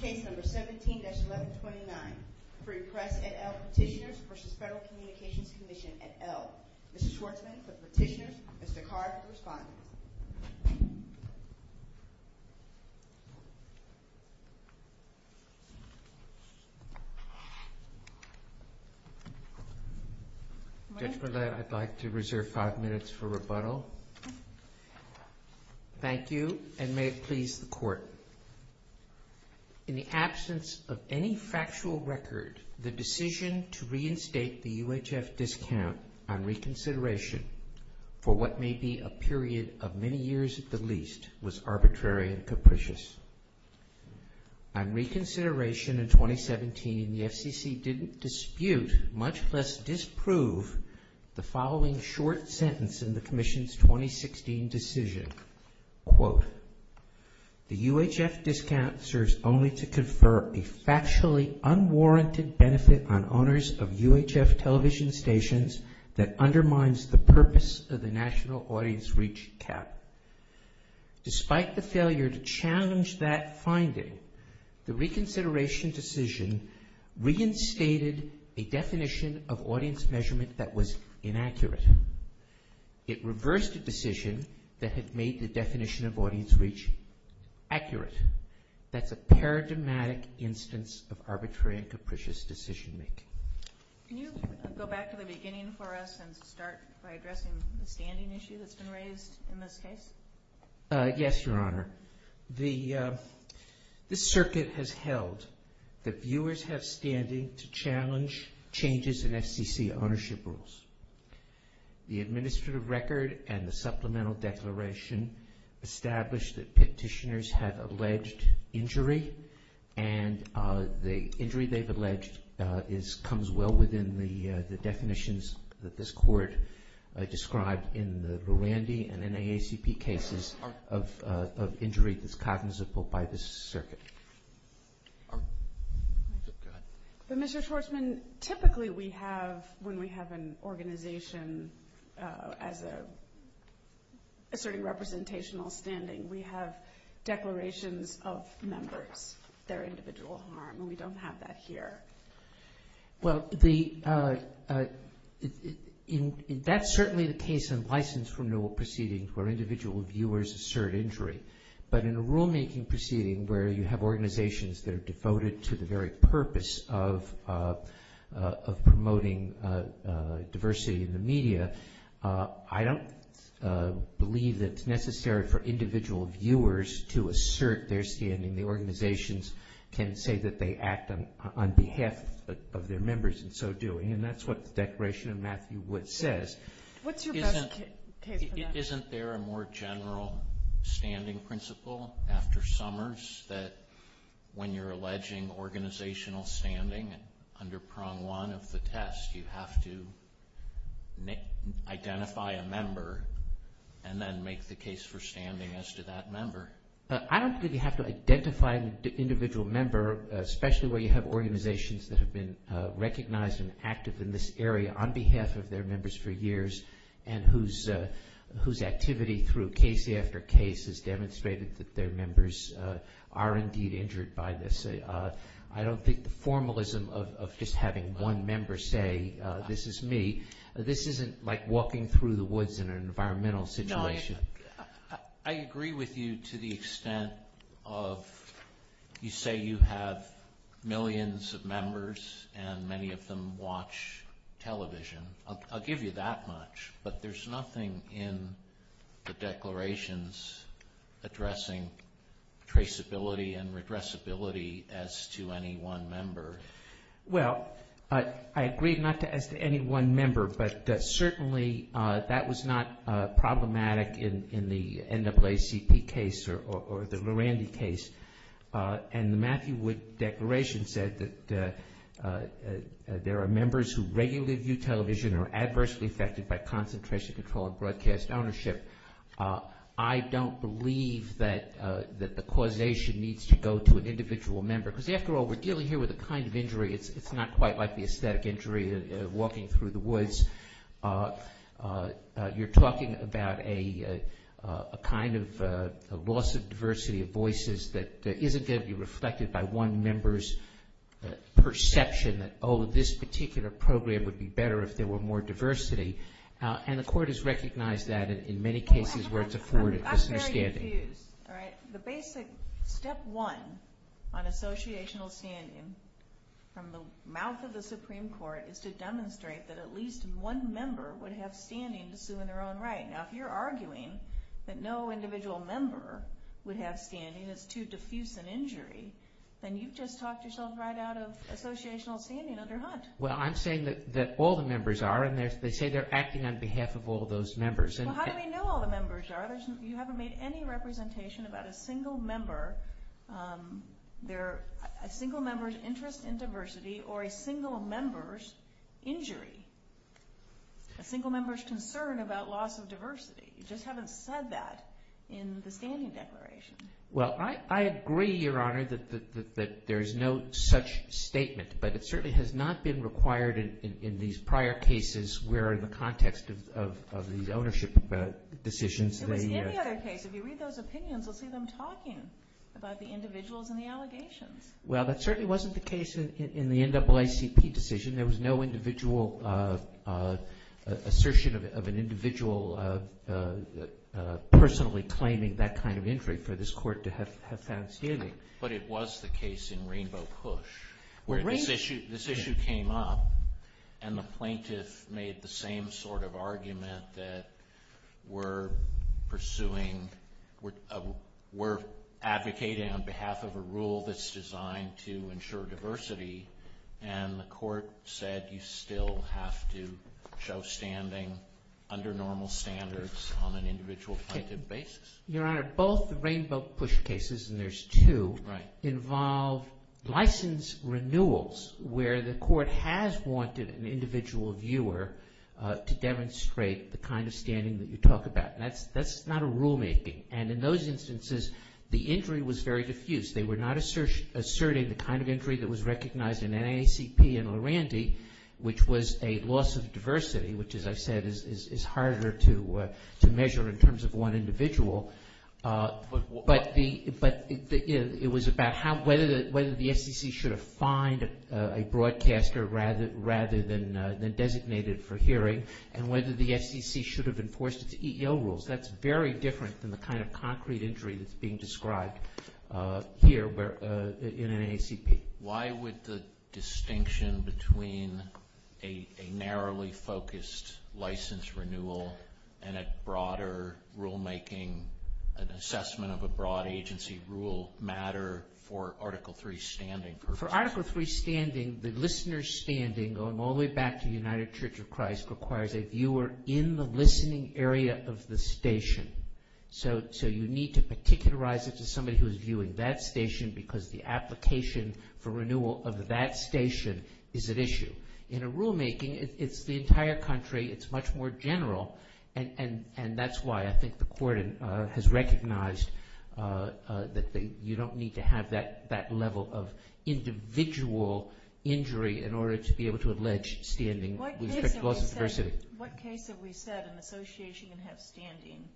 Case No. 17-1129 Free Press, et al. Petitioners v. Federal Communications Commission, et al. Mr. Schwartzman for the petitioners, Mr. Carr for the respondents. Judge Bled, I'd like to reserve five minutes for rebuttal. Thank you, and may it please the Court. In the absence of any factual record, the decision to reinstate the UHF discount on reconsideration for what may be a period of many years at the least was arbitrary and capricious. On reconsideration in 2017, the FCC didn't dispute, much less disprove, the following short sentence in the Commission's 2016 decision. Quote, the UHF discount serves only to confer a factually unwarranted benefit on owners of UHF television stations that undermines the purpose of the national audience reach cap. Despite the failure to challenge that finding, the reconsideration decision reinstated a definition of audience measurement that was inaccurate. It reversed a decision that had made the definition of audience reach accurate. That's a paradigmatic instance of arbitrary and capricious decision-making. Can you go back to the beginning for us and start by addressing the standing issue that's been raised in this case? Yes, Your Honor. This circuit has held that viewers have standing to challenge changes in FCC ownership rules. The administrative record and the supplemental declaration establish that petitioners have alleged injury, and the injury they've alleged comes well within the definitions that this Court described in the Rwandy and NAACP cases of injury that's cognizable by this circuit. Go ahead. But, Mr. Schwarzman, typically we have, when we have an organization as a certain representational standing, we have declarations of members, their individual harm, and we don't have that here. Well, that's certainly the case in license renewal proceedings where individual viewers assert injury. But in a rulemaking proceeding where you have organizations that are devoted to the very purpose of promoting diversity in the media, I don't believe that it's necessary for individual viewers to assert their standing. The organizations can say that they act on behalf of their members and so do. And that's what the Declaration of Matthew Wood says. What's your best case for that? Isn't there a more general standing principle after Summers that when you're alleging organizational standing, under prong one of the test, you have to identify a member and then make the case for standing as to that member? I don't think you have to identify an individual member, especially when you have organizations that have been recognized and active in this area on behalf of their members for years and whose activity through case after case has demonstrated that their members are indeed injured by this. I don't think the formalism of just having one member say, this is me, this isn't like walking through the woods in an environmental situation. I agree with you to the extent of you say you have millions of members and many of them watch television. I'll give you that much, but there's nothing in the declarations addressing traceability and redressability as to any one member. Well, I agree not as to any one member, but certainly that was not problematic in the NAACP case or the Lurandy case. And the Matthew Wood Declaration said that there are members who regularly view television and are adversely affected by concentration control and broadcast ownership. I don't believe that the causation needs to go to an individual member. Because, after all, we're dealing here with a kind of injury. It's not quite like the aesthetic injury of walking through the woods. You're talking about a kind of loss of diversity of voices that isn't going to be reflected by one member's perception that, oh, this particular program would be better if there were more diversity. And the court has recognized that in many cases where it's afforded misunderstanding. The basic step one on associational standing from the mouth of the Supreme Court is to demonstrate that at least one member would have standing to sue in their own right. Now, if you're arguing that no individual member would have standing as to diffuse an injury, then you've just talked yourself right out of associational standing under Hunt. Well, I'm saying that all the members are, and they say they're acting on behalf of all those members. Well, how do we know all the members are? You haven't made any representation about a single member's interest in diversity or a single member's injury, a single member's concern about loss of diversity. You just haven't said that in the standing declaration. Well, I agree, Your Honor, that there's no such statement. But it certainly has not been required in these prior cases where, in the context of these ownership decisions, it was in the other case. If you read those opinions, you'll see them talking about the individuals and the allegations. Well, that certainly wasn't the case in the NAACP decision. There was no individual assertion of an individual personally claiming that kind of injury for this court to have found standing. But it was the case in Rainbow Cush where this issue came up and the plaintiff made the same sort of argument that we're pursuing, we're advocating on behalf of a rule that's designed to ensure diversity, and the court said you still have to show standing under normal standards on an individual plaintiff basis. Your Honor, both the Rainbow Cush cases, and there's two, involve license renewals where the court has wanted an individual viewer to demonstrate the kind of standing that you talk about. That's not a rulemaking. And in those instances, the injury was very diffuse. They were not asserting the kind of injury that was recognized in NAACP and Lurandy, which was a loss of diversity, which, as I said, is harder to measure in terms of one individual. But it was about whether the FCC should have fined a broadcaster rather than designated for hearing and whether the FCC should have enforced its EEO rules. That's very different than the kind of concrete injury that's being described here in NAACP. Why would the distinction between a narrowly focused license renewal and a broader rulemaking, an assessment of a broad agency rule matter for Article III standing purposes? For Article III standing, the listener's standing, going all the way back to the United Church of Christ, requires a viewer in the listening area of the station. So you need to particularize it to somebody who is viewing that station because the application for renewal of that station is at issue. In a rulemaking, it's the entire country. It's much more general. And that's why I think the Court has recognized that you don't need to have that level of individual injury in order to be able to allege standing with respect to loss of diversity. What case have we said an association can have standing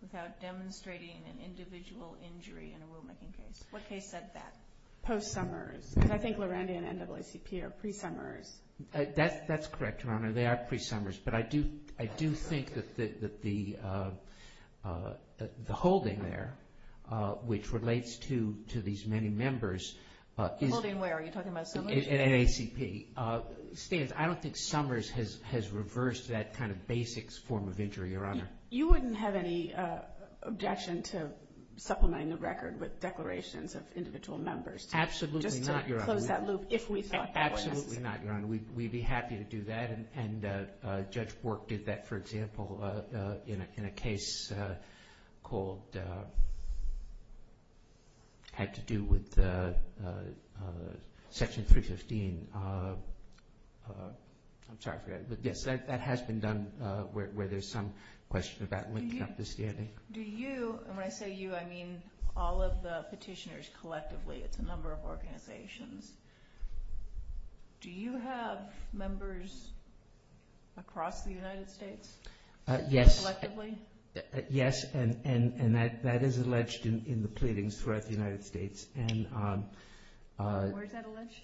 without demonstrating an individual injury in a rulemaking case? What case said that? Post-Sommers. Because I think Lurandy and NAACP are pre-Sommers. That's correct, Your Honor. They are pre-Sommers. But I do think that the holding there, which relates to these many members, The holding where? Are you talking about Sommers? NAACP. You wouldn't have any objection to supplementing the record with declarations of individual members? Absolutely not, Your Honor. Just to close that loop, if we thought that was necessary. Absolutely not, Your Honor. We'd be happy to do that. And Judge Bork did that, for example, in a case called, had to do with Section 315. I'm sorry for that. But yes, that has been done where there's some question about linking up the standing. Do you, and when I say you, I mean all of the petitioners collectively. It's a number of organizations. Do you have members across the United States? Yes. Collectively? Yes, and that is alleged in the pleadings throughout the United States. Where is that alleged?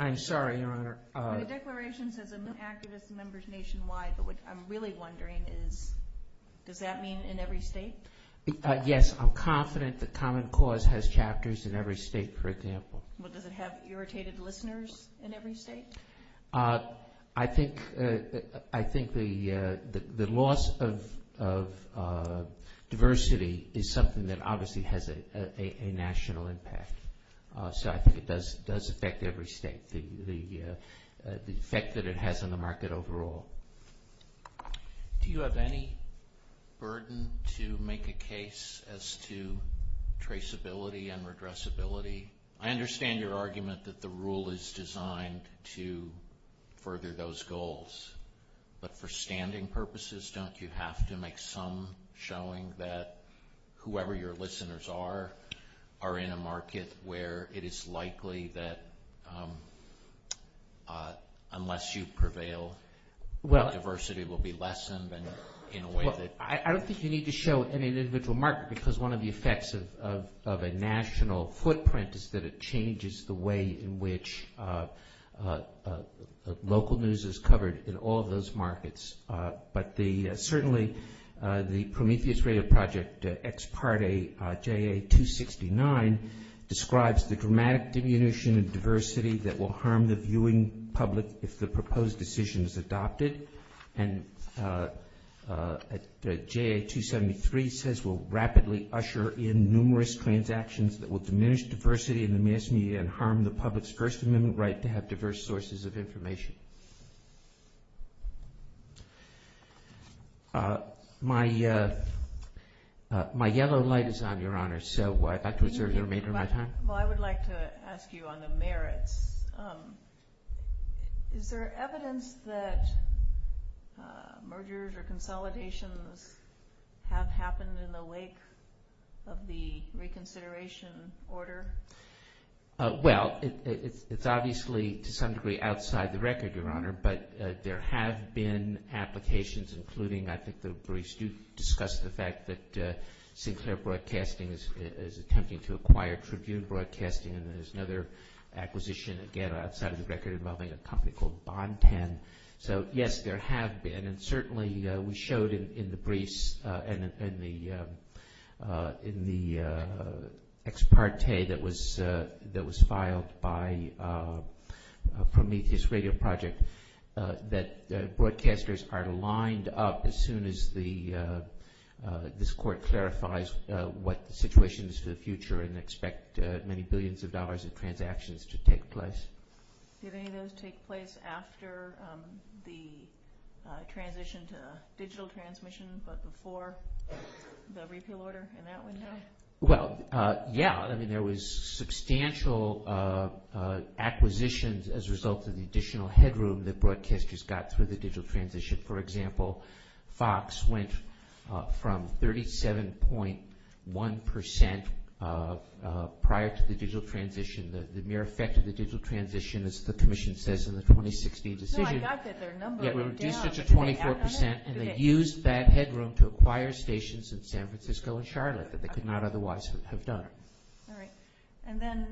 I'm sorry, Your Honor. The declaration says activist members nationwide. But what I'm really wondering is, does that mean in every state? Yes, I'm confident that Common Cause has chapters in every state, for example. Well, does it have irritated listeners in every state? I think the loss of diversity is something that obviously has a national impact. So I think it does affect every state, the effect that it has on the market overall. Do you have any burden to make a case as to traceability and redressability? I understand your argument that the rule is designed to further those goals. But for standing purposes, don't you have to make some showing that whoever your listeners are, are in a market where it is likely that unless you prevail, diversity will be lessened? I don't think you need to show an individual market because one of the effects of a national footprint is that it changes the way in which local news is covered in all of those markets. But certainly the Prometheus Radio Project ex parte JA-269 describes the dramatic diminution of diversity that will harm the viewing public if the proposed decision is adopted. And JA-273 says, will rapidly usher in numerous transactions that will diminish diversity in the mass media and harm the public's first amendment right to have diverse sources of information. My yellow light is on, Your Honor, so I'd like to reserve the remainder of my time. I would like to ask you on the merits. Is there evidence that mergers or consolidations have happened in the wake of the reconsideration order? Well, it's obviously to some degree outside the record, Your Honor, but there have been applications including, I think the briefs do discuss the fact that Sinclair Broadcasting is attempting to acquire Tribune Broadcasting and there's another acquisition again outside of the record involving a company called Bonten. So yes, there have been and certainly we showed in the briefs and in the ex parte that was filed by Prometheus Radio Project that broadcasters are lined up as soon as this court clarifies what the situation is for the future and expect many billions of dollars in transactions to take place. Did any of those take place after the transition to digital transmission but before the repeal order in that window? Well, yeah. I mean there was substantial acquisitions as a result of the additional headroom that broadcasters got through the digital transition. For example, Fox went from 37.1% prior to the digital transition, the mere effect of the digital transition as the commission says in the 2016 decision. No, I got that. We reduced it to 24% and they used that headroom to acquire stations in San Francisco and Charlotte that they could not otherwise have done. All right. And then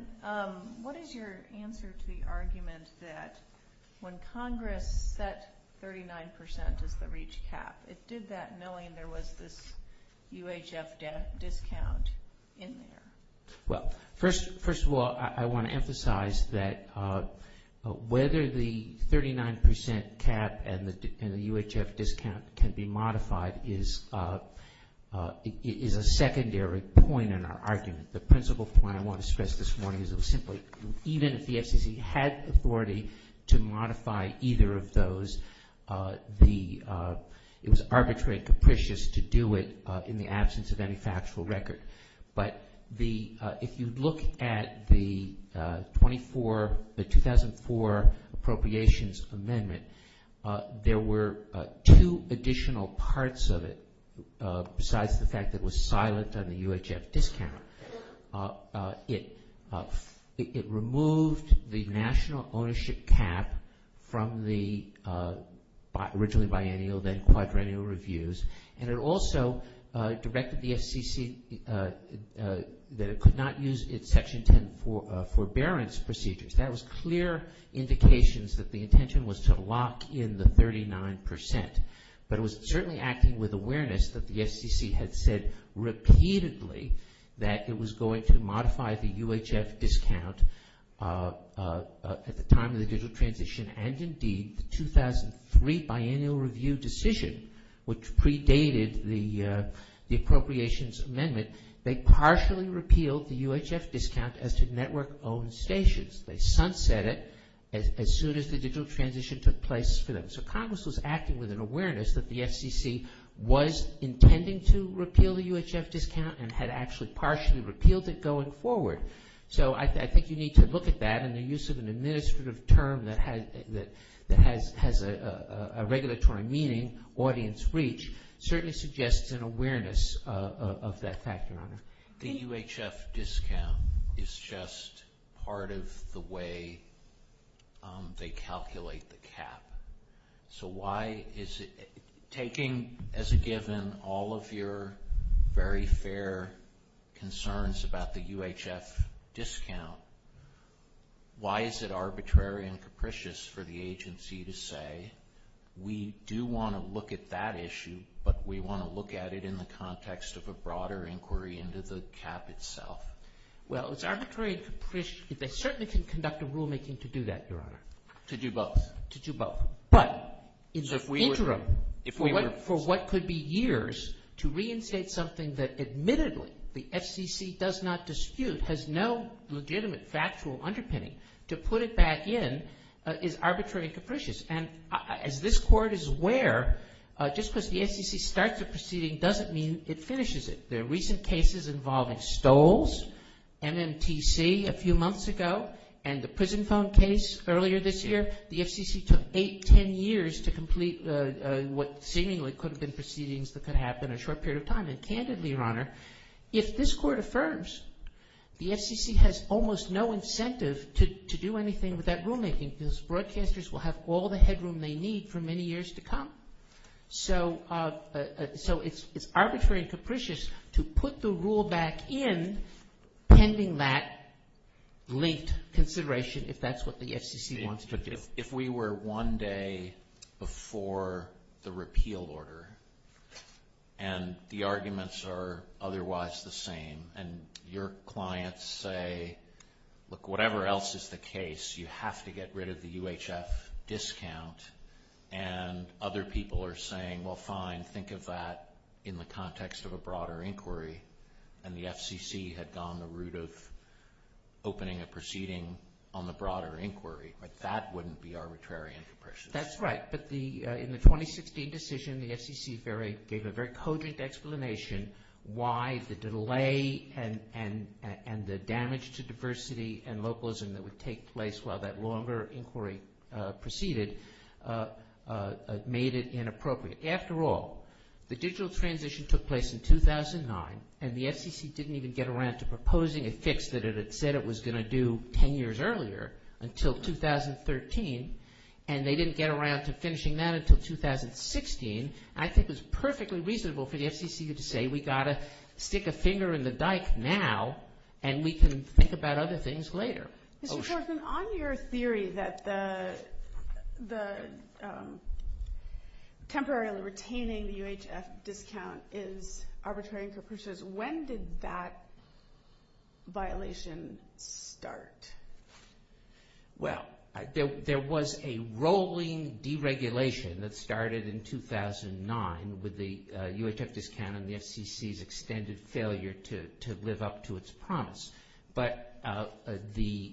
what is your answer to the argument that when Congress set 39% as the reach cap, it did that knowing there was this UHF discount in there? Well, first of all, I want to emphasize that whether the 39% cap and the UHF discount can be modified is a secondary point in our argument. The principal point I want to stress this morning is it was simply even if the FCC had authority to modify either of those, it was arbitrary and capricious to do it in the absence of any factual record. But if you look at the 2004 appropriations amendment, there were two additional parts of it besides the fact that it was silent on the UHF discount. It removed the national ownership cap from the originally biennial then quadrennial reviews and it also directed the FCC that it could not use its Section 10 forbearance procedures. That was clear indications that the intention was to lock in the 39%. But it was certainly acting with awareness that the FCC had said repeatedly that it was going to modify the UHF discount at the time of the digital transition and indeed the 2003 biennial review decision which predated the appropriations amendment. They partially repealed the UHF discount as to network owned stations. They sunset it as soon as the digital transition took place for them. So Congress was acting with an awareness that the FCC was intending to repeal the UHF discount and had actually partially repealed it going forward. So I think you need to look at that and the use of an administrative term that has a regulatory meaning, audience reach, certainly suggests an awareness of that factor. The UHF discount is just part of the way they calculate the cap. So taking as a given all of your very fair concerns about the UHF discount, why is it arbitrary and capricious for the agency to say we do want to look at that issue but we want to look at it in the context of a broader inquiry into the cap itself? Well, it's arbitrary and capricious. They certainly can conduct a rulemaking to do that, Your Honor. To do both? To do both. But in the interim, for what could be years, to reinstate something that admittedly the FCC does not dispute, has no legitimate factual underpinning, to put it back in is arbitrary and capricious. And as this Court is aware, just because the FCC starts a proceeding doesn't mean it finishes it. There are recent cases involving Stolls, MMTC a few months ago, and the prison phone case earlier this year. The FCC took eight, ten years to complete what seemingly could have been proceedings that could happen in a short period of time. And candidly, Your Honor, if this Court affirms, the FCC has almost no incentive to do anything with that rulemaking because broadcasters will have all the headroom they need for many years to come. So it's arbitrary and capricious to put the rule back in pending that linked consideration, if that's what the FCC wants to do. If we were one day before the repeal order, and the arguments are otherwise the same, and your clients say, look, whatever else is the case, you have to get rid of the UHF discount, and other people are saying, well, fine, think of that in the context of a broader inquiry, and the FCC had gone the route of opening a proceeding on the broader inquiry. That wouldn't be arbitrary and capricious. That's right, but in the 2016 decision, the FCC gave a very cogent explanation why the delay and the damage to diversity and localism that would take place while that longer inquiry proceeded made it inappropriate. After all, the digital transition took place in 2009, and the FCC didn't even get around to proposing a fix that it had said it was going to do 10 years earlier until 2013, and they didn't get around to finishing that until 2016. I think it was perfectly reasonable for the FCC to say we've got to stick a finger in the dike now, and we can think about other things later. Mr. Forsman, on your theory that temporarily retaining the UHF discount is arbitrary and capricious, when did that violation start? Well, there was a rolling deregulation that started in 2009 with the UHF discount and the FCC's extended failure to live up to its promise, but the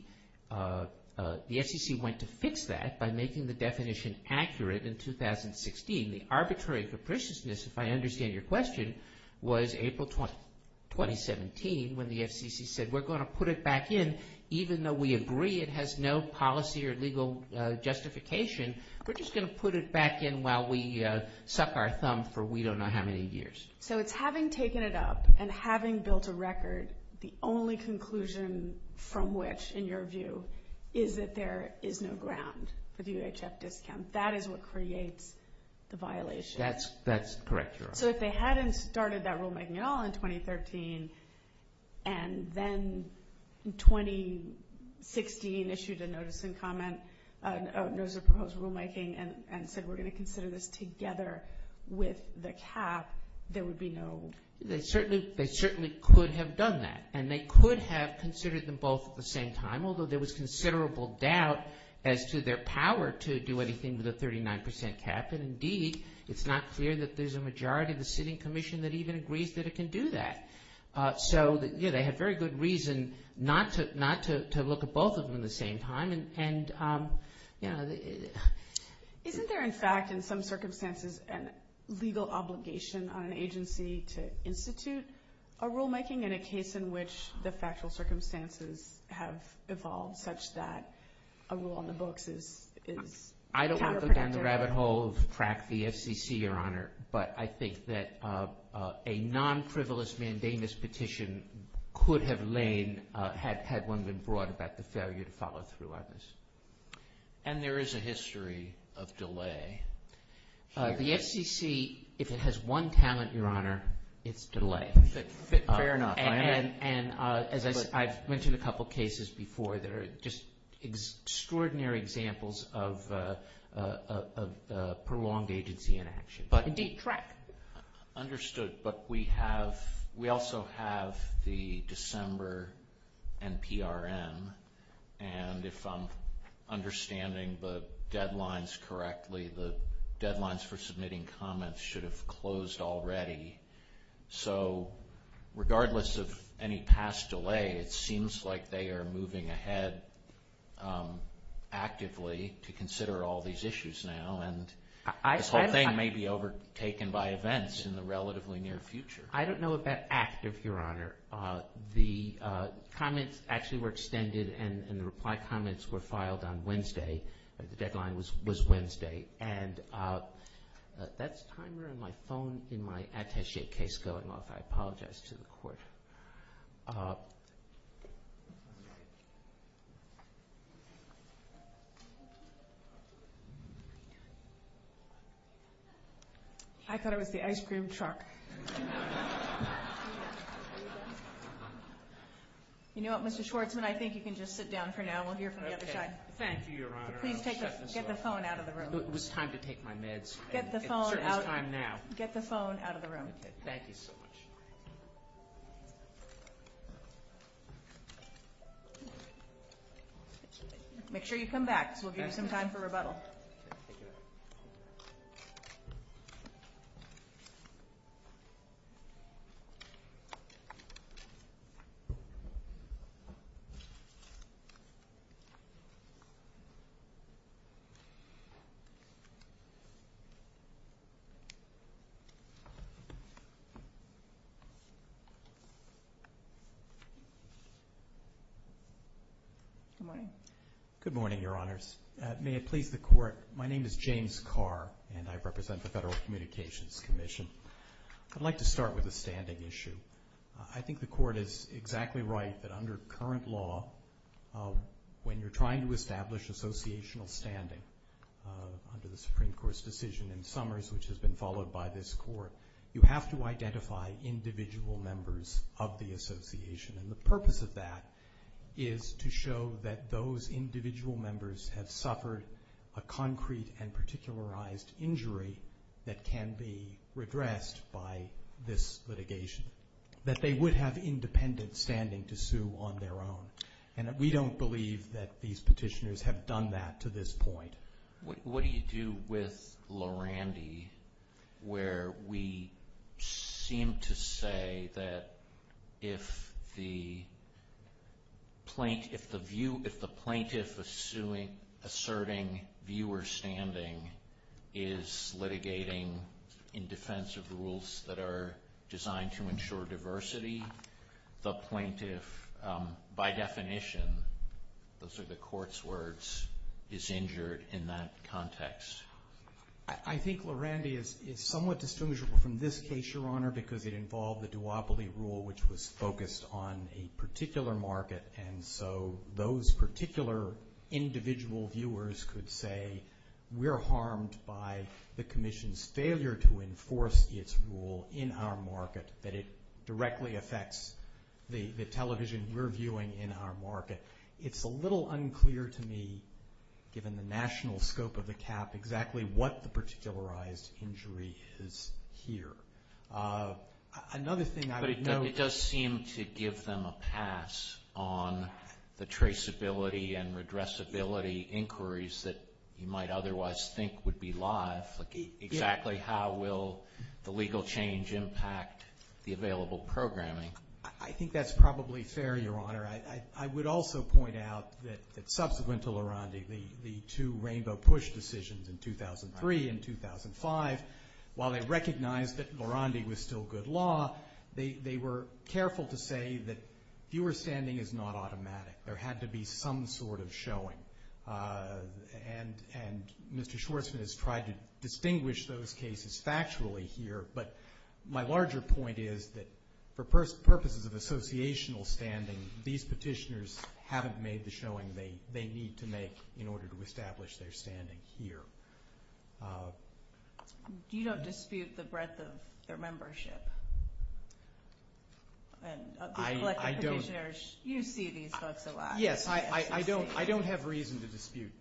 FCC went to fix that by making the definition accurate in 2016. The arbitrary and capriciousness, if I understand your question, was April 2017 when the FCC said we're going to put it back in even though we agree it has no policy or legal justification. We're just going to put it back in while we suck our thumb for we don't know how many years. So it's having taken it up and having built a record, the only conclusion from which, in your view, is that there is no ground for the UHF discount. That is what creates the violation. That's correct, Your Honor. So if they hadn't started that rulemaking at all in 2013, and then in 2016 issued a notice of proposed rulemaking and said we're going to consider this together with the cap, there would be no... They certainly could have done that, and they could have considered them both at the same time, although there was considerable doubt as to their power to do anything with a 39% cap, and indeed it's not clear that there's a majority of the sitting commission that even agrees that it can do that. So they had very good reason not to look at both of them at the same time. Isn't there, in fact, in some circumstances, a legal obligation on an agency to institute a rulemaking in a case in which the factual circumstances have evolved such that a rule on the books is counterproductive? I don't want to go down the rabbit hole of track the FCC, Your Honor, but I think that a non-frivolous mandamus petition could have lain had one been brought about the failure to follow through on this. And there is a history of delay. The FCC, if it has one talent, Your Honor, it's delay. Fair enough. And as I've mentioned a couple cases before, there are just extraordinary examples of prolonged agency in action. Indeed, track. Understood. But we also have the December NPRM, and if I'm understanding the deadlines correctly, the deadlines for submitting comments should have closed already. So regardless of any past delay, it seems like they are moving ahead actively to consider all these issues now, and this whole thing may be overtaken by events in the relatively near future. I don't know about active, Your Honor. The comments actually were extended, and the reply comments were filed on Wednesday. The deadline was Wednesday. That's a timer on my phone in my attache case going off. I apologize to the Court. I thought it was the ice cream truck. You know what, Mr. Schwartzman, I think you can just sit down for now. We'll hear from the other side. Thank you, Your Honor. Please get the phone out of the room. It was time to take my meds. Get the phone out. It certainly is time now. Get the phone out of the room. Thank you so much. Make sure you come back, because we'll give you some time for rebuttal. Thank you. Good morning. Good morning, Your Honors. May it please the Court, my name is James Carr, and I represent the Federal Communications Commission. I'd like to start with a standing issue. I think the Court is exactly right that under current law, when you're trying to establish associational standing, under the Supreme Court's decision in Summers, which has been followed by this Court, you have to identify individual members of the association. And the purpose of that is to show that those individual members have suffered a concrete and particularized injury that can be redressed by this litigation, that they would have independent standing to sue on their own. And we don't believe that these petitioners have done that to this point. What do you do with Lurandy, where we seem to say that if the plaintiff asserting viewer standing is litigating in defense of the rules that are designed to ensure diversity, the plaintiff, by definition, those are the Court's words, is injured in that context? I think Lurandy is somewhat distinguishable from this case, Your Honor, because it involved the duopoly rule, which was focused on a particular market. And so those particular individual viewers could say, we're harmed by the Commission's failure to enforce its rule in our market, that it directly affects the television we're viewing in our market. It's a little unclear to me, given the national scope of the cap, exactly what the particularized injury is here. Another thing I would note... But it does seem to give them a pass on the traceability and redressability inquiries that you might otherwise think would be live. Exactly how will the legal change impact the available programming? I think that's probably fair, Your Honor. I would also point out that subsequent to Lurandy, the two rainbow push decisions in 2003 and 2005, while they recognized that Lurandy was still good law, they were careful to say that viewer standing is not automatic. There had to be some sort of showing. And Mr. Schwartzman has tried to distinguish those cases factually here, but my larger point is that for purposes of associational standing, these petitioners haven't made the showing they need to make in order to establish their standing here. You don't dispute the breadth of their membership? I don't. You see these folks a lot. Yes, I don't have reason to dispute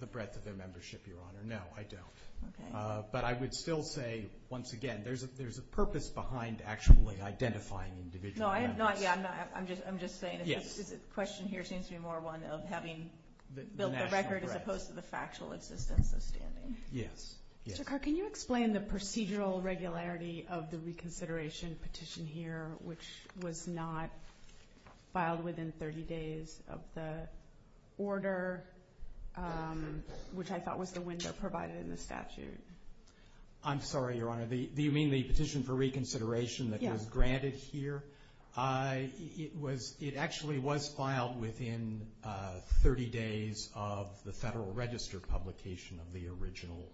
the breadth of their membership, Your Honor. No, I don't. But I would still say, once again, there's a purpose behind actually identifying individual members. I'm just saying the question here seems to be more one of having built the record as opposed to the factual existence of standing. Yes. Mr. Carr, can you explain the procedural regularity of the reconsideration petition here, which was not filed within 30 days of the order, which I thought was the window provided in the statute? I'm sorry, Your Honor. Do you mean the petition for reconsideration that was granted here? Yes. It actually was filed within 30 days of the Federal Register publication of the original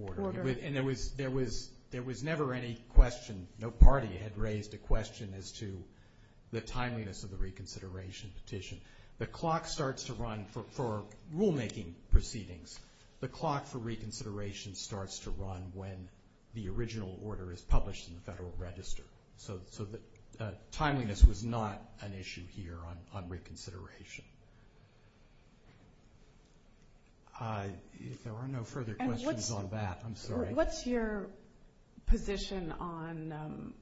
order. And there was never any question. No party had raised a question as to the timeliness of the reconsideration petition. The clock starts to run for rulemaking proceedings. The clock for reconsideration starts to run when the original order is published in the Federal Register. So timeliness was not an issue here on reconsideration. If there are no further questions on that, I'm sorry. What's your position on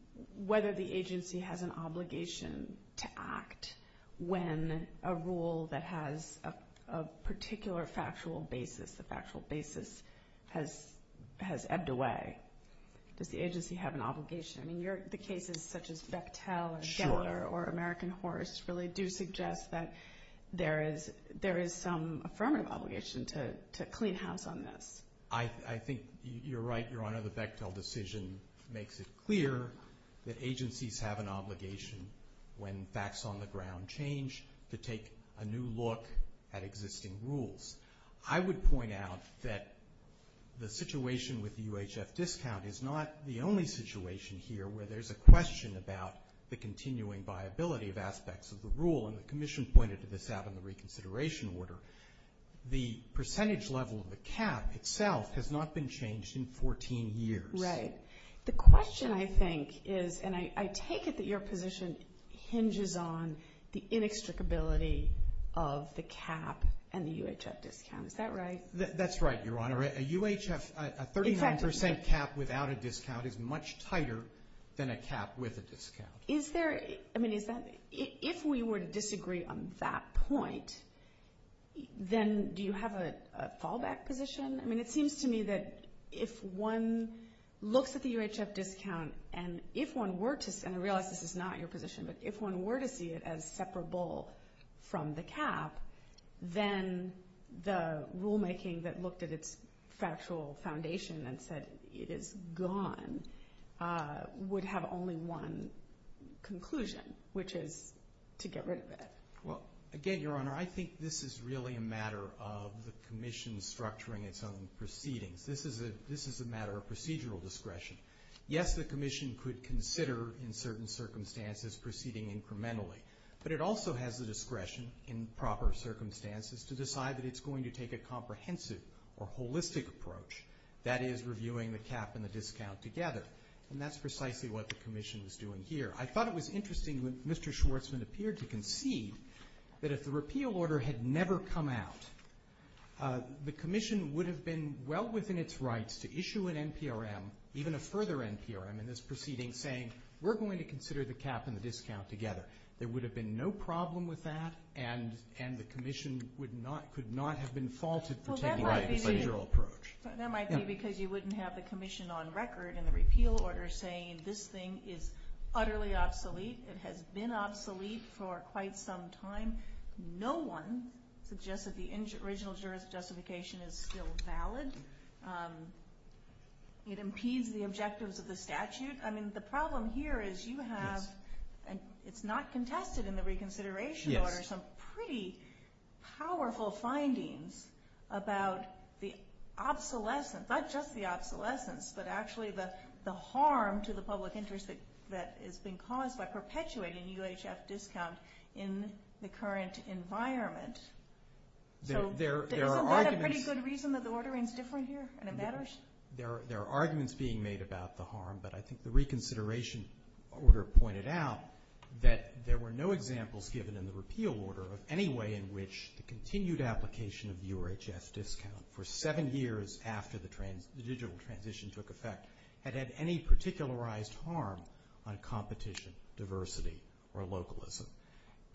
whether the agency has an obligation to act when a rule that has a particular factual basis, a factual basis, has ebbed away? Does the agency have an obligation? I mean, the cases such as Bechtel and Gettler or American Horse really do suggest that there is some affirmative obligation to clean house on this. I think you're right, Your Honor. The Bechtel decision makes it clear that agencies have an obligation when facts on the ground change to take a new look at existing rules. I would point out that the situation with the UHF discount is not the only situation here where there's a question about the continuing viability of aspects of the rule, and the Commission pointed this out in the reconsideration order. The percentage level of the cap itself has not been changed in 14 years. Right. The question, I think, is, and I take it that your position hinges on the inextricability of the cap and the UHF discount. Is that right? That's right, Your Honor. A UHF, a 39% cap without a discount is much tighter than a cap with a discount. Is there, I mean, is that, if we were to disagree on that point, then do you have a fallback position? I mean, it seems to me that if one looks at the UHF discount and if one were to, and I realize this is not your position, but if one were to see it as separable from the cap, then the rulemaking that looked at its factual foundation and said it is gone would have only one conclusion, which is to get rid of it. Well, again, Your Honor, I think this is really a matter of the Commission structuring its own proceedings. This is a matter of procedural discretion. Yes, the Commission could consider, in certain circumstances, proceeding incrementally, but it also has the discretion, in proper circumstances, to decide that it's going to take a comprehensive or holistic approach, that is, reviewing the cap and the discount together, and that's precisely what the Commission is doing here. I thought it was interesting when Mr. Schwarzman appeared to concede that if the repeal order had never come out, the Commission would have been well within its rights to issue an NPRM, even a further NPRM in this proceeding, saying we're going to consider the cap and the discount together. There would have been no problem with that, and the Commission could not have been faulted for taking a procedural approach. That might be because you wouldn't have the Commission on record in the repeal order saying this thing is utterly obsolete. It has been obsolete for quite some time. No one suggests that the original jurisdiction is still valid. It impedes the objectives of the statute. I mean, the problem here is you have, and it's not contested in the reconsideration order, some pretty powerful findings about the obsolescence, not just the obsolescence, but actually the harm to the public interest that is being caused by perpetuating UHF discount in the current environment. So isn't that a pretty good reason that the ordering is different here, and it matters? There are arguments being made about the harm, but I think the reconsideration order pointed out that there were no examples given in the repeal order of any way in which the continued application of UHF discount for seven years after the digital transition took effect had had any particularized harm on competition, diversity, or localism.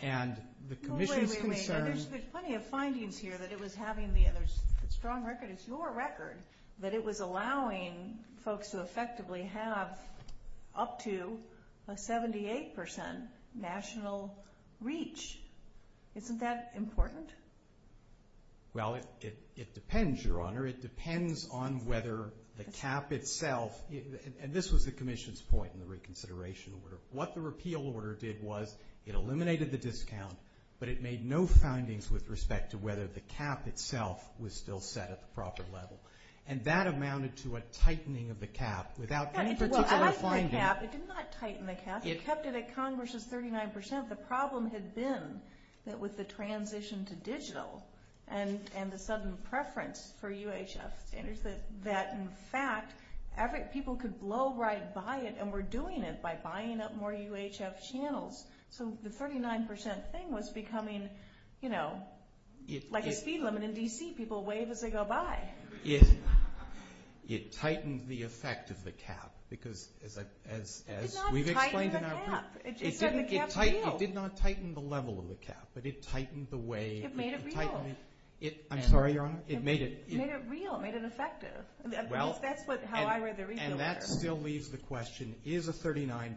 And the Commission's concern – Wait, wait, wait. There's plenty of findings here that it was having – the strong record is your record – that it was allowing folks to effectively have up to a 78% national reach. Isn't that important? Well, it depends, Your Honor. It depends on whether the cap itself – and this was the Commission's point in the reconsideration order. What the repeal order did was it eliminated the discount, but it made no findings with respect to whether the cap itself was still set at the proper level. And that amounted to a tightening of the cap without any particular finding. It did not tighten the cap. It kept it at Congress's 39%. The problem had been that with the transition to digital and the sudden preference for UHF standards that, in fact, people could blow right by it and were doing it by buying up more UHF channels. So the 39% thing was becoming, you know, like a speed limit in D.C. People wave as they go by. It tightened the effect of the cap because, as we've explained – It did not tighten the cap. It said the cap's real. It did not tighten the level of the cap, but it tightened the way – It made it real. I'm sorry, Your Honor? It made it – It made it real. It made it effective. That's how I read the repeal order. That still leaves the question, is a 39%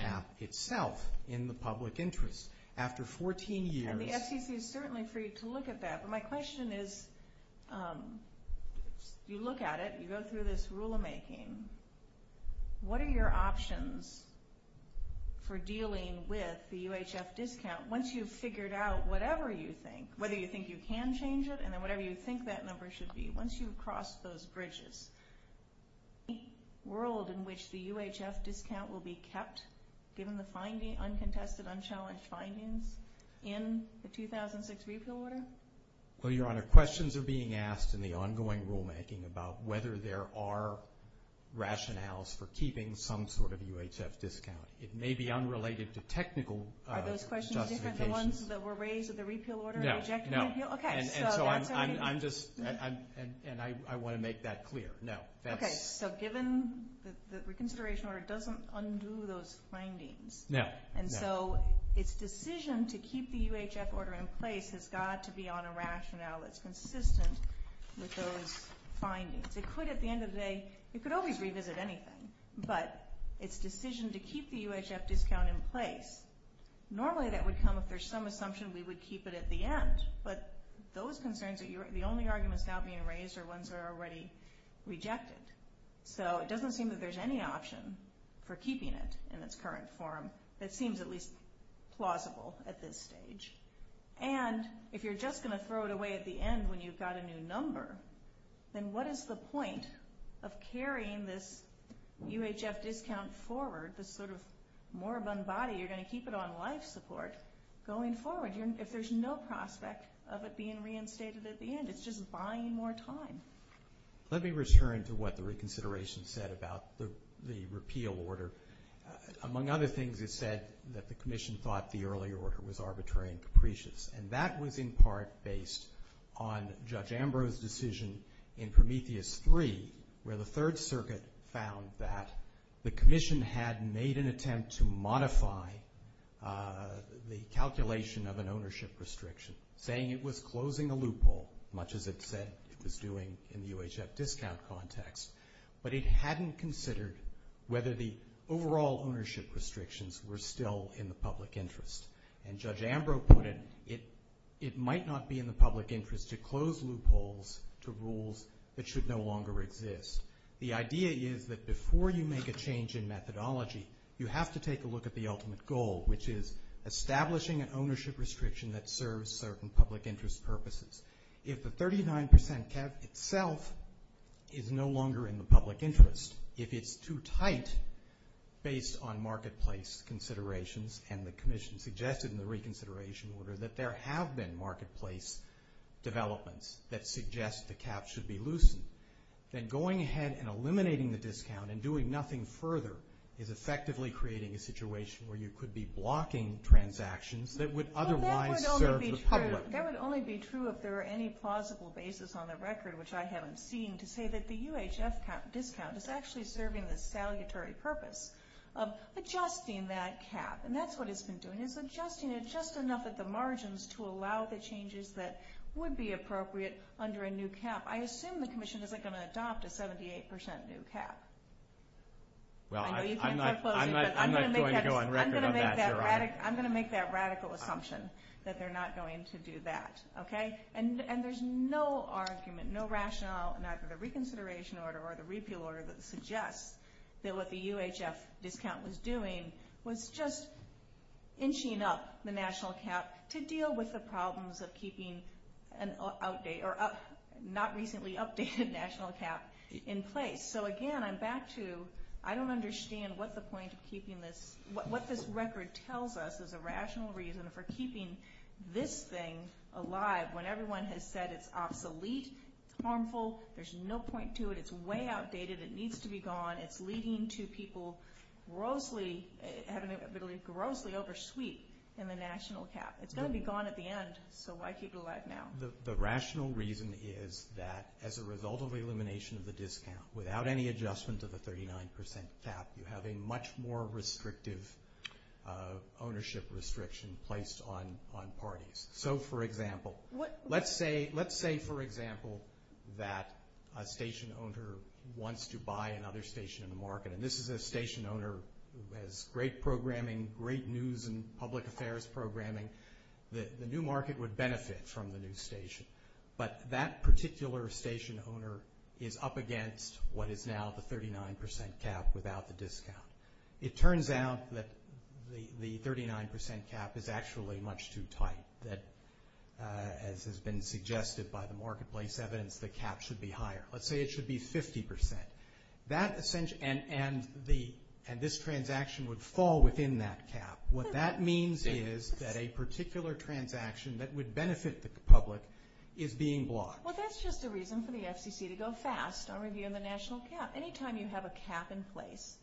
cap itself in the public interest? After 14 years – And the FCC is certainly free to look at that. But my question is, you look at it. You go through this rule of making. What are your options for dealing with the UHF discount once you've figured out whatever you think, whether you think you can change it and then whatever you think that number should be, once you've crossed those bridges? Any world in which the UHF discount will be kept, given the uncontested, unchallenged findings in the 2006 repeal order? Well, Your Honor, questions are being asked in the ongoing rulemaking about whether there are rationales for keeping some sort of UHF discount. It may be unrelated to technical justifications. Are those questions different than the ones that were raised in the repeal order? No. And so I'm just – and I want to make that clear. No. Okay, so given the reconsideration order doesn't undo those findings. No. And so its decision to keep the UHF order in place has got to be on a rationale that's consistent with those findings. It could, at the end of the day, it could always revisit anything. But its decision to keep the UHF discount in place, normally that would come if there's some assumption we would keep it at the end. But those concerns, the only arguments now being raised are ones that are already rejected. So it doesn't seem that there's any option for keeping it in its current form that seems at least plausible at this stage. And if you're just going to throw it away at the end when you've got a new number, then what is the point of carrying this UHF discount forward, this sort of moribund body? You're going to keep it on life support going forward if there's no prospect of it being reinstated at the end. It's just buying more time. Let me return to what the reconsideration said about the repeal order. Among other things, it said that the commission thought the early order was arbitrary and capricious, and that was in part based on Judge Ambrose's decision in Prometheus III where the Third Circuit found that the commission had made an attempt to modify the calculation of an ownership restriction, saying it was closing a loophole, much as it said it was doing in the UHF discount context. But it hadn't considered whether the overall ownership restrictions were still in the public interest. And Judge Ambrose put it, it might not be in the public interest to close loopholes to rules that should no longer exist. The idea is that before you make a change in methodology, you have to take a look at the ultimate goal, which is establishing an ownership restriction that serves certain public interest purposes. If the 39% cap itself is no longer in the public interest, if it's too tight based on marketplace considerations, and the commission suggested in the reconsideration order that there have been marketplace developments that suggest the cap should be loosened, then going ahead and eliminating the discount and doing nothing further is effectively creating a situation where you could be blocking transactions that would otherwise serve the public. That would only be true if there were any plausible basis on the record, which I haven't seen, to say that the UHF discount is actually serving the salutary purpose of adjusting that cap, and that's what it's been doing, and it's adjusting it just enough at the margins to allow the changes that would be appropriate under a new cap. I assume the commission isn't going to adopt a 78% new cap. I know you can't quit closing, but I'm going to make that radical assumption that they're not going to do that, okay? And there's no argument, no rationale in either the reconsideration order or the repeal order that suggests that what the UHF discount was doing was just inching up the national cap to deal with the problems of keeping an not-recently-updated national cap in place. So again, I'm back to I don't understand what the point of keeping this, what this record tells us is a rational reason for keeping this thing alive when everyone has said it's obsolete, it's harmful, there's no point to it, it's way outdated, it needs to be gone, it's leading to people grossly, grossly oversweet in the national cap. It's going to be gone at the end, so why keep it alive now? The rational reason is that as a result of elimination of the discount, without any adjustment to the 39% cap, you have a much more restrictive ownership restriction placed on parties. So, for example, let's say, for example, that a station owner wants to buy another station in the market, and this is a station owner who has great programming, great news and public affairs programming, the new market would benefit from the new station, but that particular station owner is up against what is now the 39% cap without the discount. It turns out that the 39% cap is actually much too tight, that, as has been suggested by the marketplace evidence, the cap should be higher. Let's say it should be 50%. And this transaction would fall within that cap. What that means is that a particular transaction that would benefit the public is being blocked. Well, that's just a reason for the FCC to go fast on reviewing the national cap. Anytime you have a cap in place,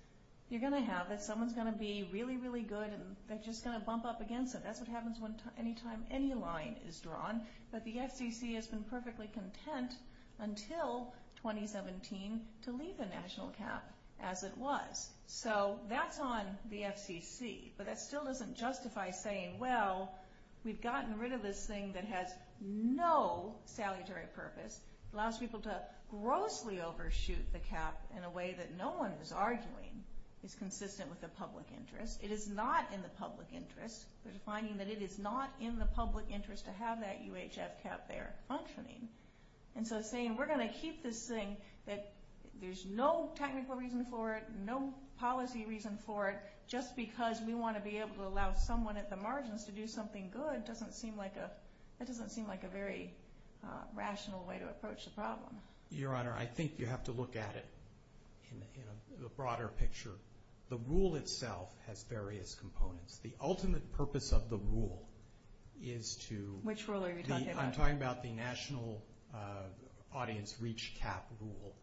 you're going to have it. Someone's going to be really, really good, and they're just going to bump up against it. That's what happens any time any line is drawn. But the FCC has been perfectly content until 2017 to leave the national cap as it was. So that's on the FCC. But that still doesn't justify saying, well, we've gotten rid of this thing that has no salutary purpose, allows people to grossly overshoot the cap in a way that no one is arguing is consistent with the public interest. It is not in the public interest. They're finding that it is not in the public interest to have that UHF cap there functioning. And so saying we're going to keep this thing, that there's no technical reason for it, no policy reason for it, just because we want to be able to allow someone at the margins to do something good doesn't seem like a very rational way to approach the problem. Your Honor, I think you have to look at it in the broader picture. The rule itself has various components. The ultimate purpose of the rule is to... Which rule are you talking about? I'm talking about the national audience reach cap rule.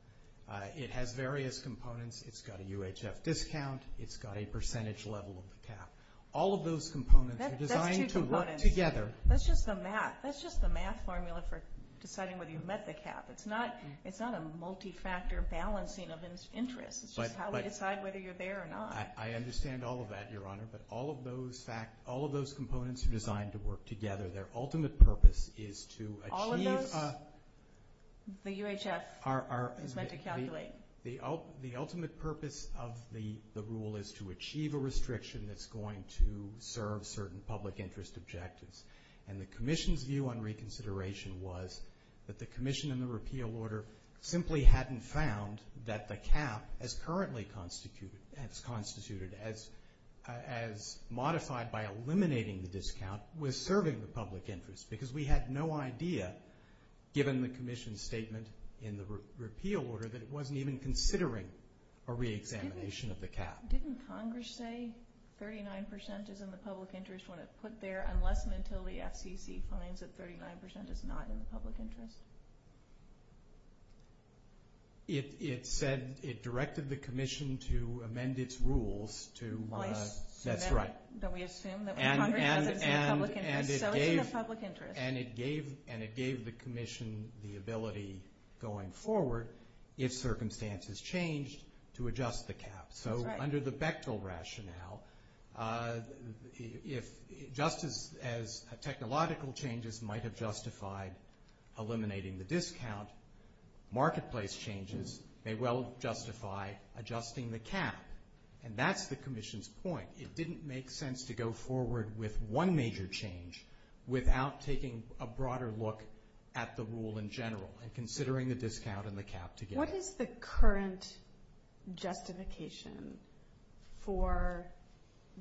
It has various components. It's got a UHF discount. It's got a percentage level of the cap. All of those components are designed to work together. That's just the math. That's just the math formula for deciding whether you've met the cap. It's not a multi-factor balancing of interests. It's just how we decide whether you're there or not. I understand all of that, Your Honor. But all of those components are designed to work together. Their ultimate purpose is to achieve a... All of those, the UHF is meant to calculate. The ultimate purpose of the rule is to achieve a restriction that's going to serve certain public interest objectives. And the Commission's view on reconsideration was that the Commission in the repeal order simply hadn't found that the cap, as currently constituted as modified by eliminating the discount, was serving the public interest. Because we had no idea, given the Commission's statement in the repeal order, that it wasn't even considering a reexamination of the cap. Didn't Congress say 39% is in the public interest when it put there, unless and until the FCC finds that 39% is not in the public interest? It said it directed the Commission to amend its rules to... Place. That's right. That we assume that Congress doesn't see the public interest, so it's in the public interest. And it gave the Commission the ability going forward, if circumstances changed, to adjust the cap. That's right. Under the Bechtel rationale, just as technological changes might have justified eliminating the discount, marketplace changes may well justify adjusting the cap. And that's the Commission's point. It didn't make sense to go forward with one major change without taking a broader look at the rule in general and considering the discount and the cap together. What is the current justification for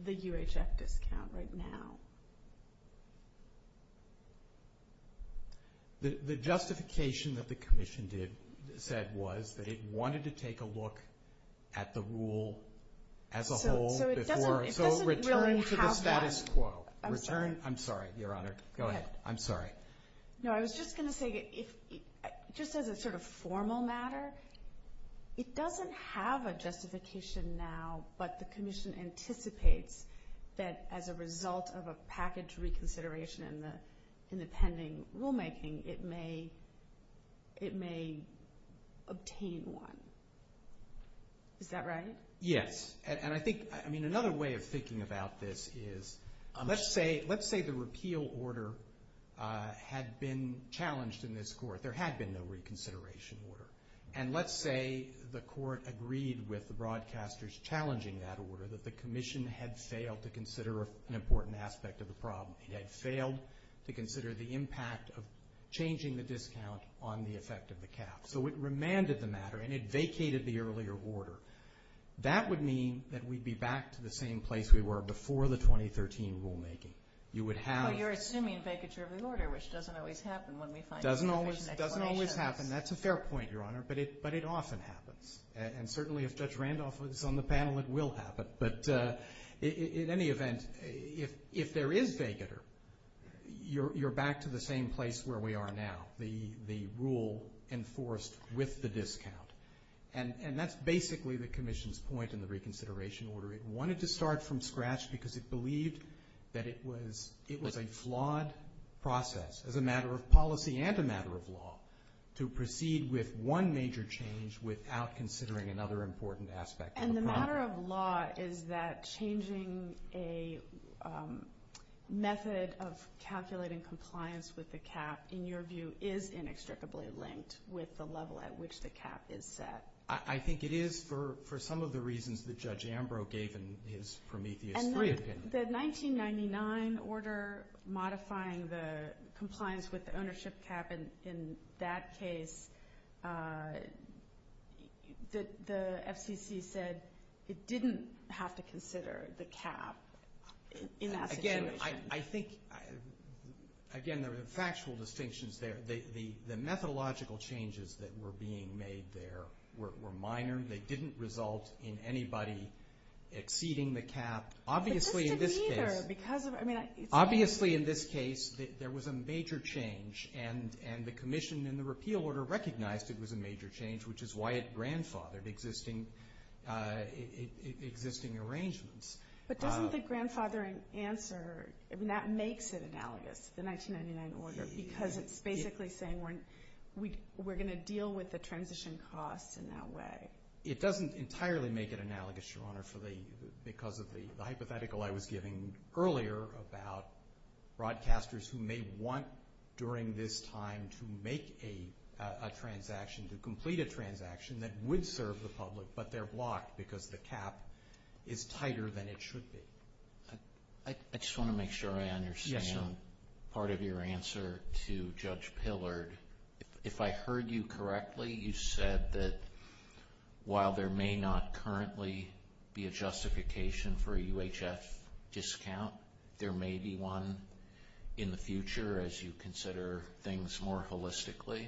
the UHF discount right now? The justification that the Commission said was that it wanted to take a look at the rule as a whole before. So it doesn't really have that. So return to the status quo. I'm sorry. I'm sorry, Your Honor. Go ahead. I'm sorry. No, I was just going to say, just as a sort of formal matter, it doesn't have a justification now, but the Commission anticipates that as a result of a package reconsideration in the pending rulemaking, it may obtain one. Is that right? Yes. I mean, another way of thinking about this is, let's say the repeal order had been challenged in this court. There had been no reconsideration order. And let's say the court agreed with the broadcasters challenging that order, that the Commission had failed to consider an important aspect of the problem. It had failed to consider the impact of changing the discount on the effect of the cap. So it remanded the matter and it vacated the earlier order. That would mean that we'd be back to the same place we were before the 2013 rulemaking. You would have the same. But you're assuming a vacature of the order, which doesn't always happen when we find information explanations. It doesn't always happen. That's a fair point, Your Honor. But it often happens. And certainly if Judge Randolph is on the panel, it will happen. But in any event, if there is vacature, you're back to the same place where we are now, the rule enforced with the discount. And that's basically the Commission's point in the reconsideration order. It wanted to start from scratch because it believed that it was a flawed process, as a matter of policy and a matter of law, to proceed with one major change without considering another important aspect of the problem. And the matter of law is that changing a method of calculating compliance with the cap, in your view, is inextricably linked with the level at which the cap is set. I think it is for some of the reasons that Judge Ambrose gave in his Prometheus III opinion. And the 1999 order modifying the compliance with the ownership cap, in that case the FCC said it didn't have to consider the cap in that situation. I think, again, there are factual distinctions there. The methodological changes that were being made there were minor. They didn't result in anybody exceeding the cap. Obviously in this case, there was a major change. And the Commission in the repeal order recognized it was a major change, which is why it grandfathered existing arrangements. But doesn't the grandfathering answer, that makes it analogous, the 1999 order, because it's basically saying we're going to deal with the transition costs in that way. It doesn't entirely make it analogous, Your Honor, because of the hypothetical I was giving earlier about broadcasters who may want during this time to make a transaction, to complete a transaction that would serve the public, but they're blocked because the cap is tighter than it should be. I just want to make sure I understand part of your answer to Judge Pillard. If I heard you correctly, you said that while there may not currently be a justification for a UHF discount, there may be one in the future as you consider things more holistically.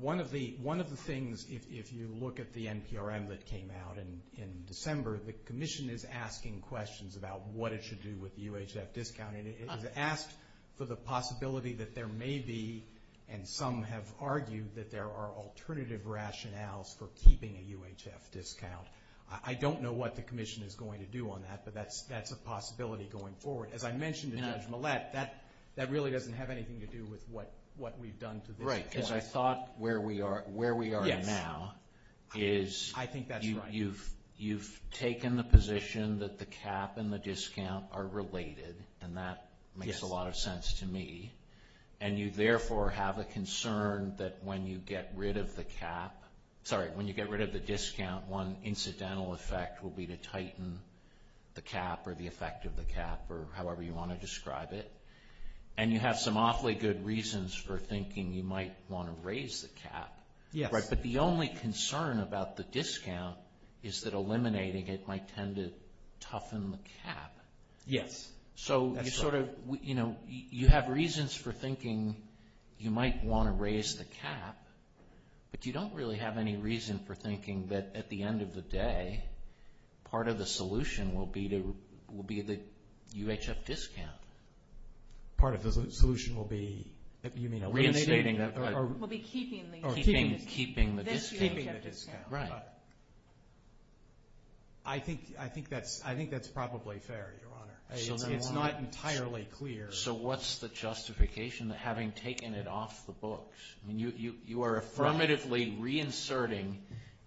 One of the things, if you look at the NPRM that came out in December, the Commission is asking questions about what it should do with the UHF discount. It has asked for the possibility that there may be, and some have argued that there are alternative rationales for keeping a UHF discount. I don't know what the Commission is going to do on that, but that's a possibility going forward. As I mentioned to Judge Millett, that really doesn't have anything to do with what we've done to this point. Right, because I thought where we are now is you've taken the position that the cap and the discount are related, and that makes a lot of sense to me, and you therefore have a concern that when you get rid of the discount, one incidental effect will be to tighten the cap or the effect of the cap or however you want to describe it, and you have some awfully good reasons for thinking you might want to raise the cap, but the only concern about the discount is that eliminating it might tend to toughen the cap. Yes, that's right. So you have reasons for thinking you might want to raise the cap, but you don't really have any reason for thinking that at the end of the day, part of the solution will be the UHF discount. Part of the solution will be eliminating that? Will be keeping the discount. Keeping the discount. Right. I think that's probably fair, Your Honor. It's not entirely clear. So what's the justification of having taken it off the books? You are affirmatively reinserting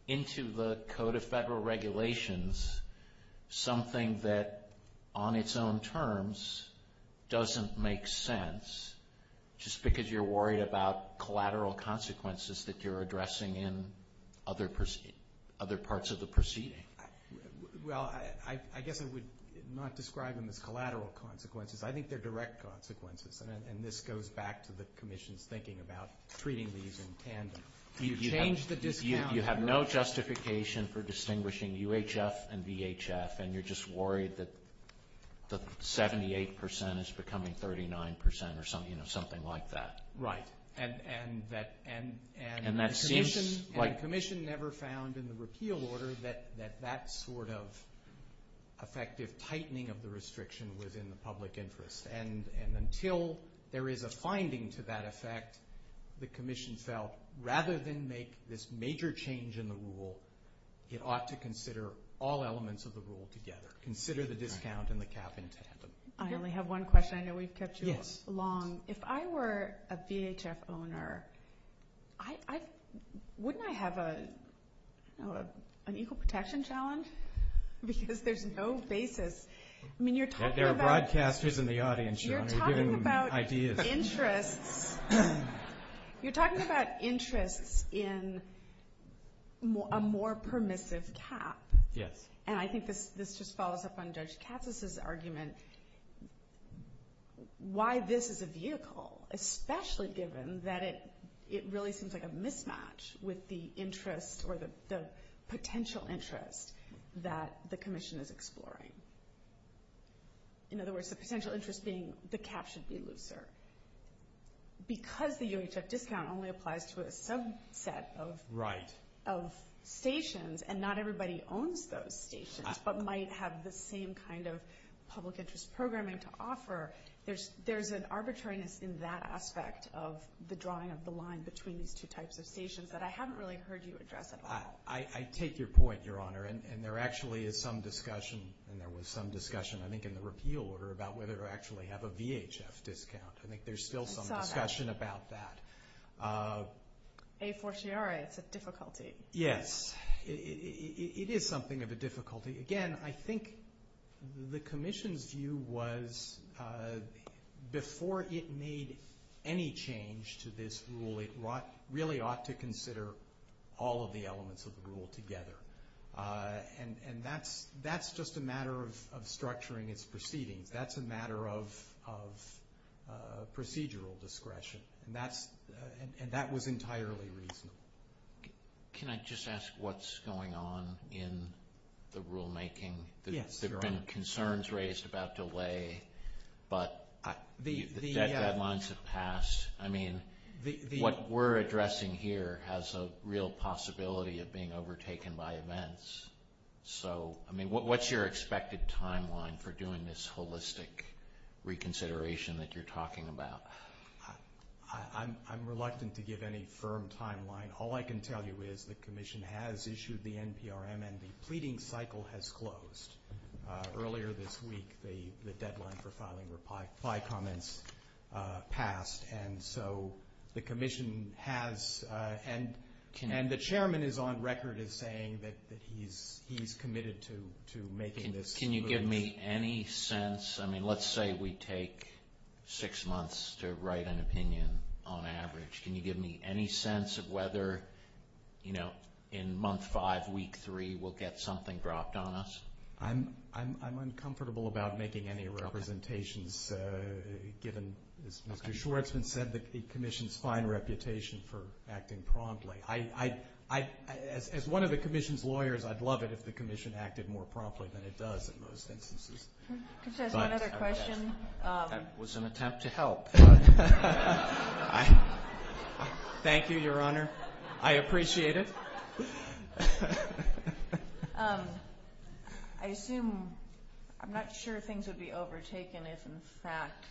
into the Code of Federal Regulations something that on its own terms doesn't make sense, just because you're worried about collateral consequences that you're addressing in other parts of the proceeding. Well, I guess I would not describe them as collateral consequences. I think they're direct consequences, and this goes back to the Commission's thinking about treating these in tandem. You change the discount. You have no justification for distinguishing UHF and VHF, and you're just worried that the 78% is becoming 39% or something like that. Right. And the Commission never found in the repeal order that that sort of effective tightening of the restriction was in the public interest. And until there is a finding to that effect, the Commission felt rather than make this major change in the rule, it ought to consider all elements of the rule together, consider the discount and the cap in tandem. I only have one question. I know we've kept you long. If I were a VHF owner, wouldn't I have an equal protection challenge? Because there's no basis. There are broadcasters in the audience, John. You're giving them ideas. You're talking about interests in a more permissive cap. Yes. And I think this just follows up on Judge Katz's argument, why this is a vehicle, especially given that it really seems like a mismatch with the interest or the potential interest that the Commission is exploring. In other words, the potential interest being the cap should be looser. Because the UHF discount only applies to a subset of stations and not everybody owns those stations but might have the same kind of public interest programming to offer, there's an arbitrariness in that aspect of the drawing of the line between these two types of stations that I haven't really heard you address at all. I take your point, Your Honor. And there actually is some discussion, and there was some discussion I think in the repeal order, about whether to actually have a VHF discount. I think there's still some discussion about that. A fortiori, it's a difficulty. Yes. It is something of a difficulty. Again, I think the Commission's view was before it made any change to this rule, it really ought to consider all of the elements of the rule together. And that's just a matter of structuring its proceedings. That's a matter of procedural discretion. And that was entirely reasonable. Can I just ask what's going on in the rulemaking? Yes, Your Honor. There have been concerns raised about delay, but the deadlines have passed. I mean, what we're addressing here has a real possibility of being overtaken by events. So, I mean, what's your expected timeline for doing this holistic reconsideration that you're talking about? I'm reluctant to give any firm timeline. All I can tell you is the Commission has issued the NPRM and the pleading cycle has closed. Earlier this week, the deadline for filing reply comments passed. And so the Commission has, and the Chairman is on record as saying that he's committed to making this. Can you give me any sense? I mean, let's say we take six months to write an opinion on average. Can you give me any sense of whether, you know, in month five, week three, we'll get something dropped on us? I'm uncomfortable about making any representations given, as Mr. Schwartzman said, the Commission's fine reputation for acting promptly. As one of the Commission's lawyers, I'd love it if the Commission acted more promptly than it does in most instances. Can I just ask one other question? That was an attempt to help. Thank you, Your Honor. I appreciate it. I assume, I'm not sure things would be overtaken if, in fact,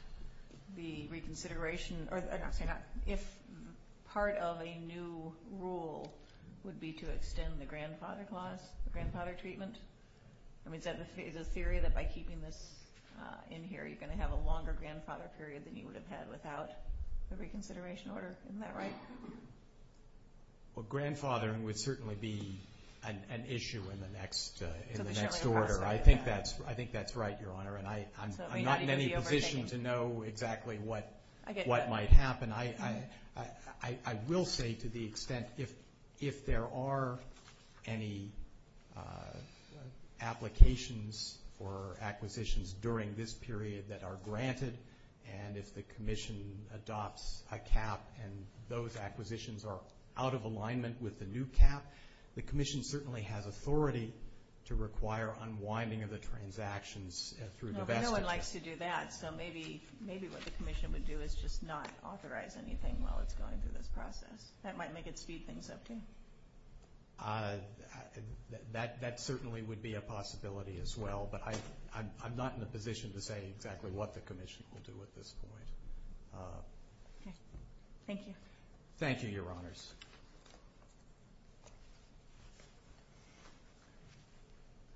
the reconsideration, if part of a new rule would be to extend the grandfather clause, the grandfather treatment. I mean, is it a theory that by keeping this in here, you're going to have a longer grandfather period than you would have had without the reconsideration order? Isn't that right? Well, grandfathering would certainly be an issue in the next order. I think that's right, Your Honor. And I'm not in any position to know exactly what might happen. I will say, to the extent, if there are any applications for acquisitions during this period that are granted, and if the Commission adopts a cap and those acquisitions are out of alignment with the new cap, the Commission certainly has authority to require unwinding of the transactions through divestiture. Well, no one likes to do that, so maybe what the Commission would do is just not authorize anything while it's going through this process. That might make it speed things up, too. That certainly would be a possibility as well, but I'm not in a position to say exactly what the Commission will do at this point. Okay. Thank you. Thank you, Your Honors.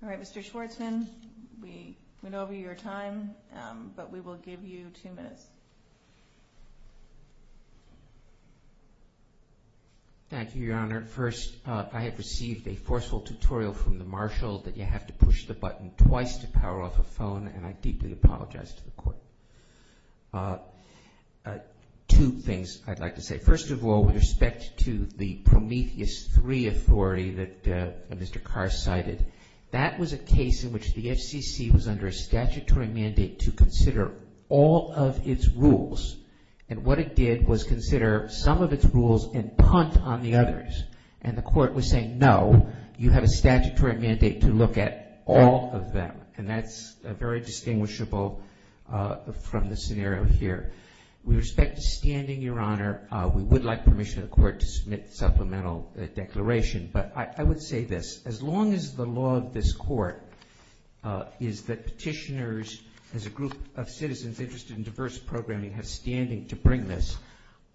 All right, Mr. Schwartzman, we went over your time, but we will give you two minutes. Thank you, Your Honor. First, I have received a forceful tutorial from the Marshal that you have to push the button twice to power off a phone, and I deeply apologize to the Court. Two things I'd like to say. First of all, with respect to the Prometheus III authority that Mr. Carr cited, that was a case in which the FCC was under a statutory mandate to consider all of its rules, and what it did was consider some of its rules and punt on the others. And the Court was saying, no, you have a statutory mandate to look at all of them, and that's very distinguishable from the scenario here. With respect to standing, Your Honor, we would like permission of the Court to submit supplemental declaration, but I would say this. As long as the law of this Court is that petitioners as a group of citizens interested in diverse programming have standing to bring this,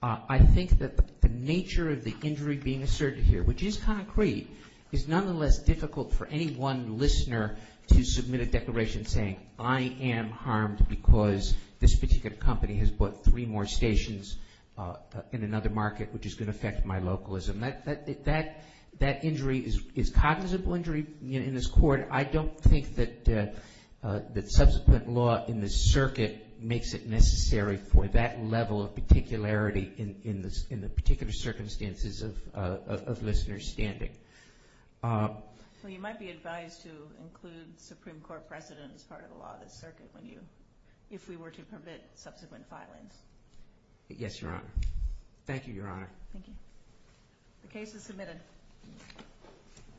I think that the nature of the injury being asserted here, which is concrete, is nonetheless difficult for any one listener to submit a declaration saying, I am harmed because this particular company has bought three more stations in another market, which is going to affect my localism. That injury is cognizant of injury in this Court. I don't think that subsequent law in this circuit makes it necessary for that level of particularity in the particular circumstances of listeners' standing. Well, you might be advised to include Supreme Court precedent as part of the law of this circuit if we were to permit subsequent filings. Yes, Your Honor. Thank you, Your Honor. Thank you. The case is submitted.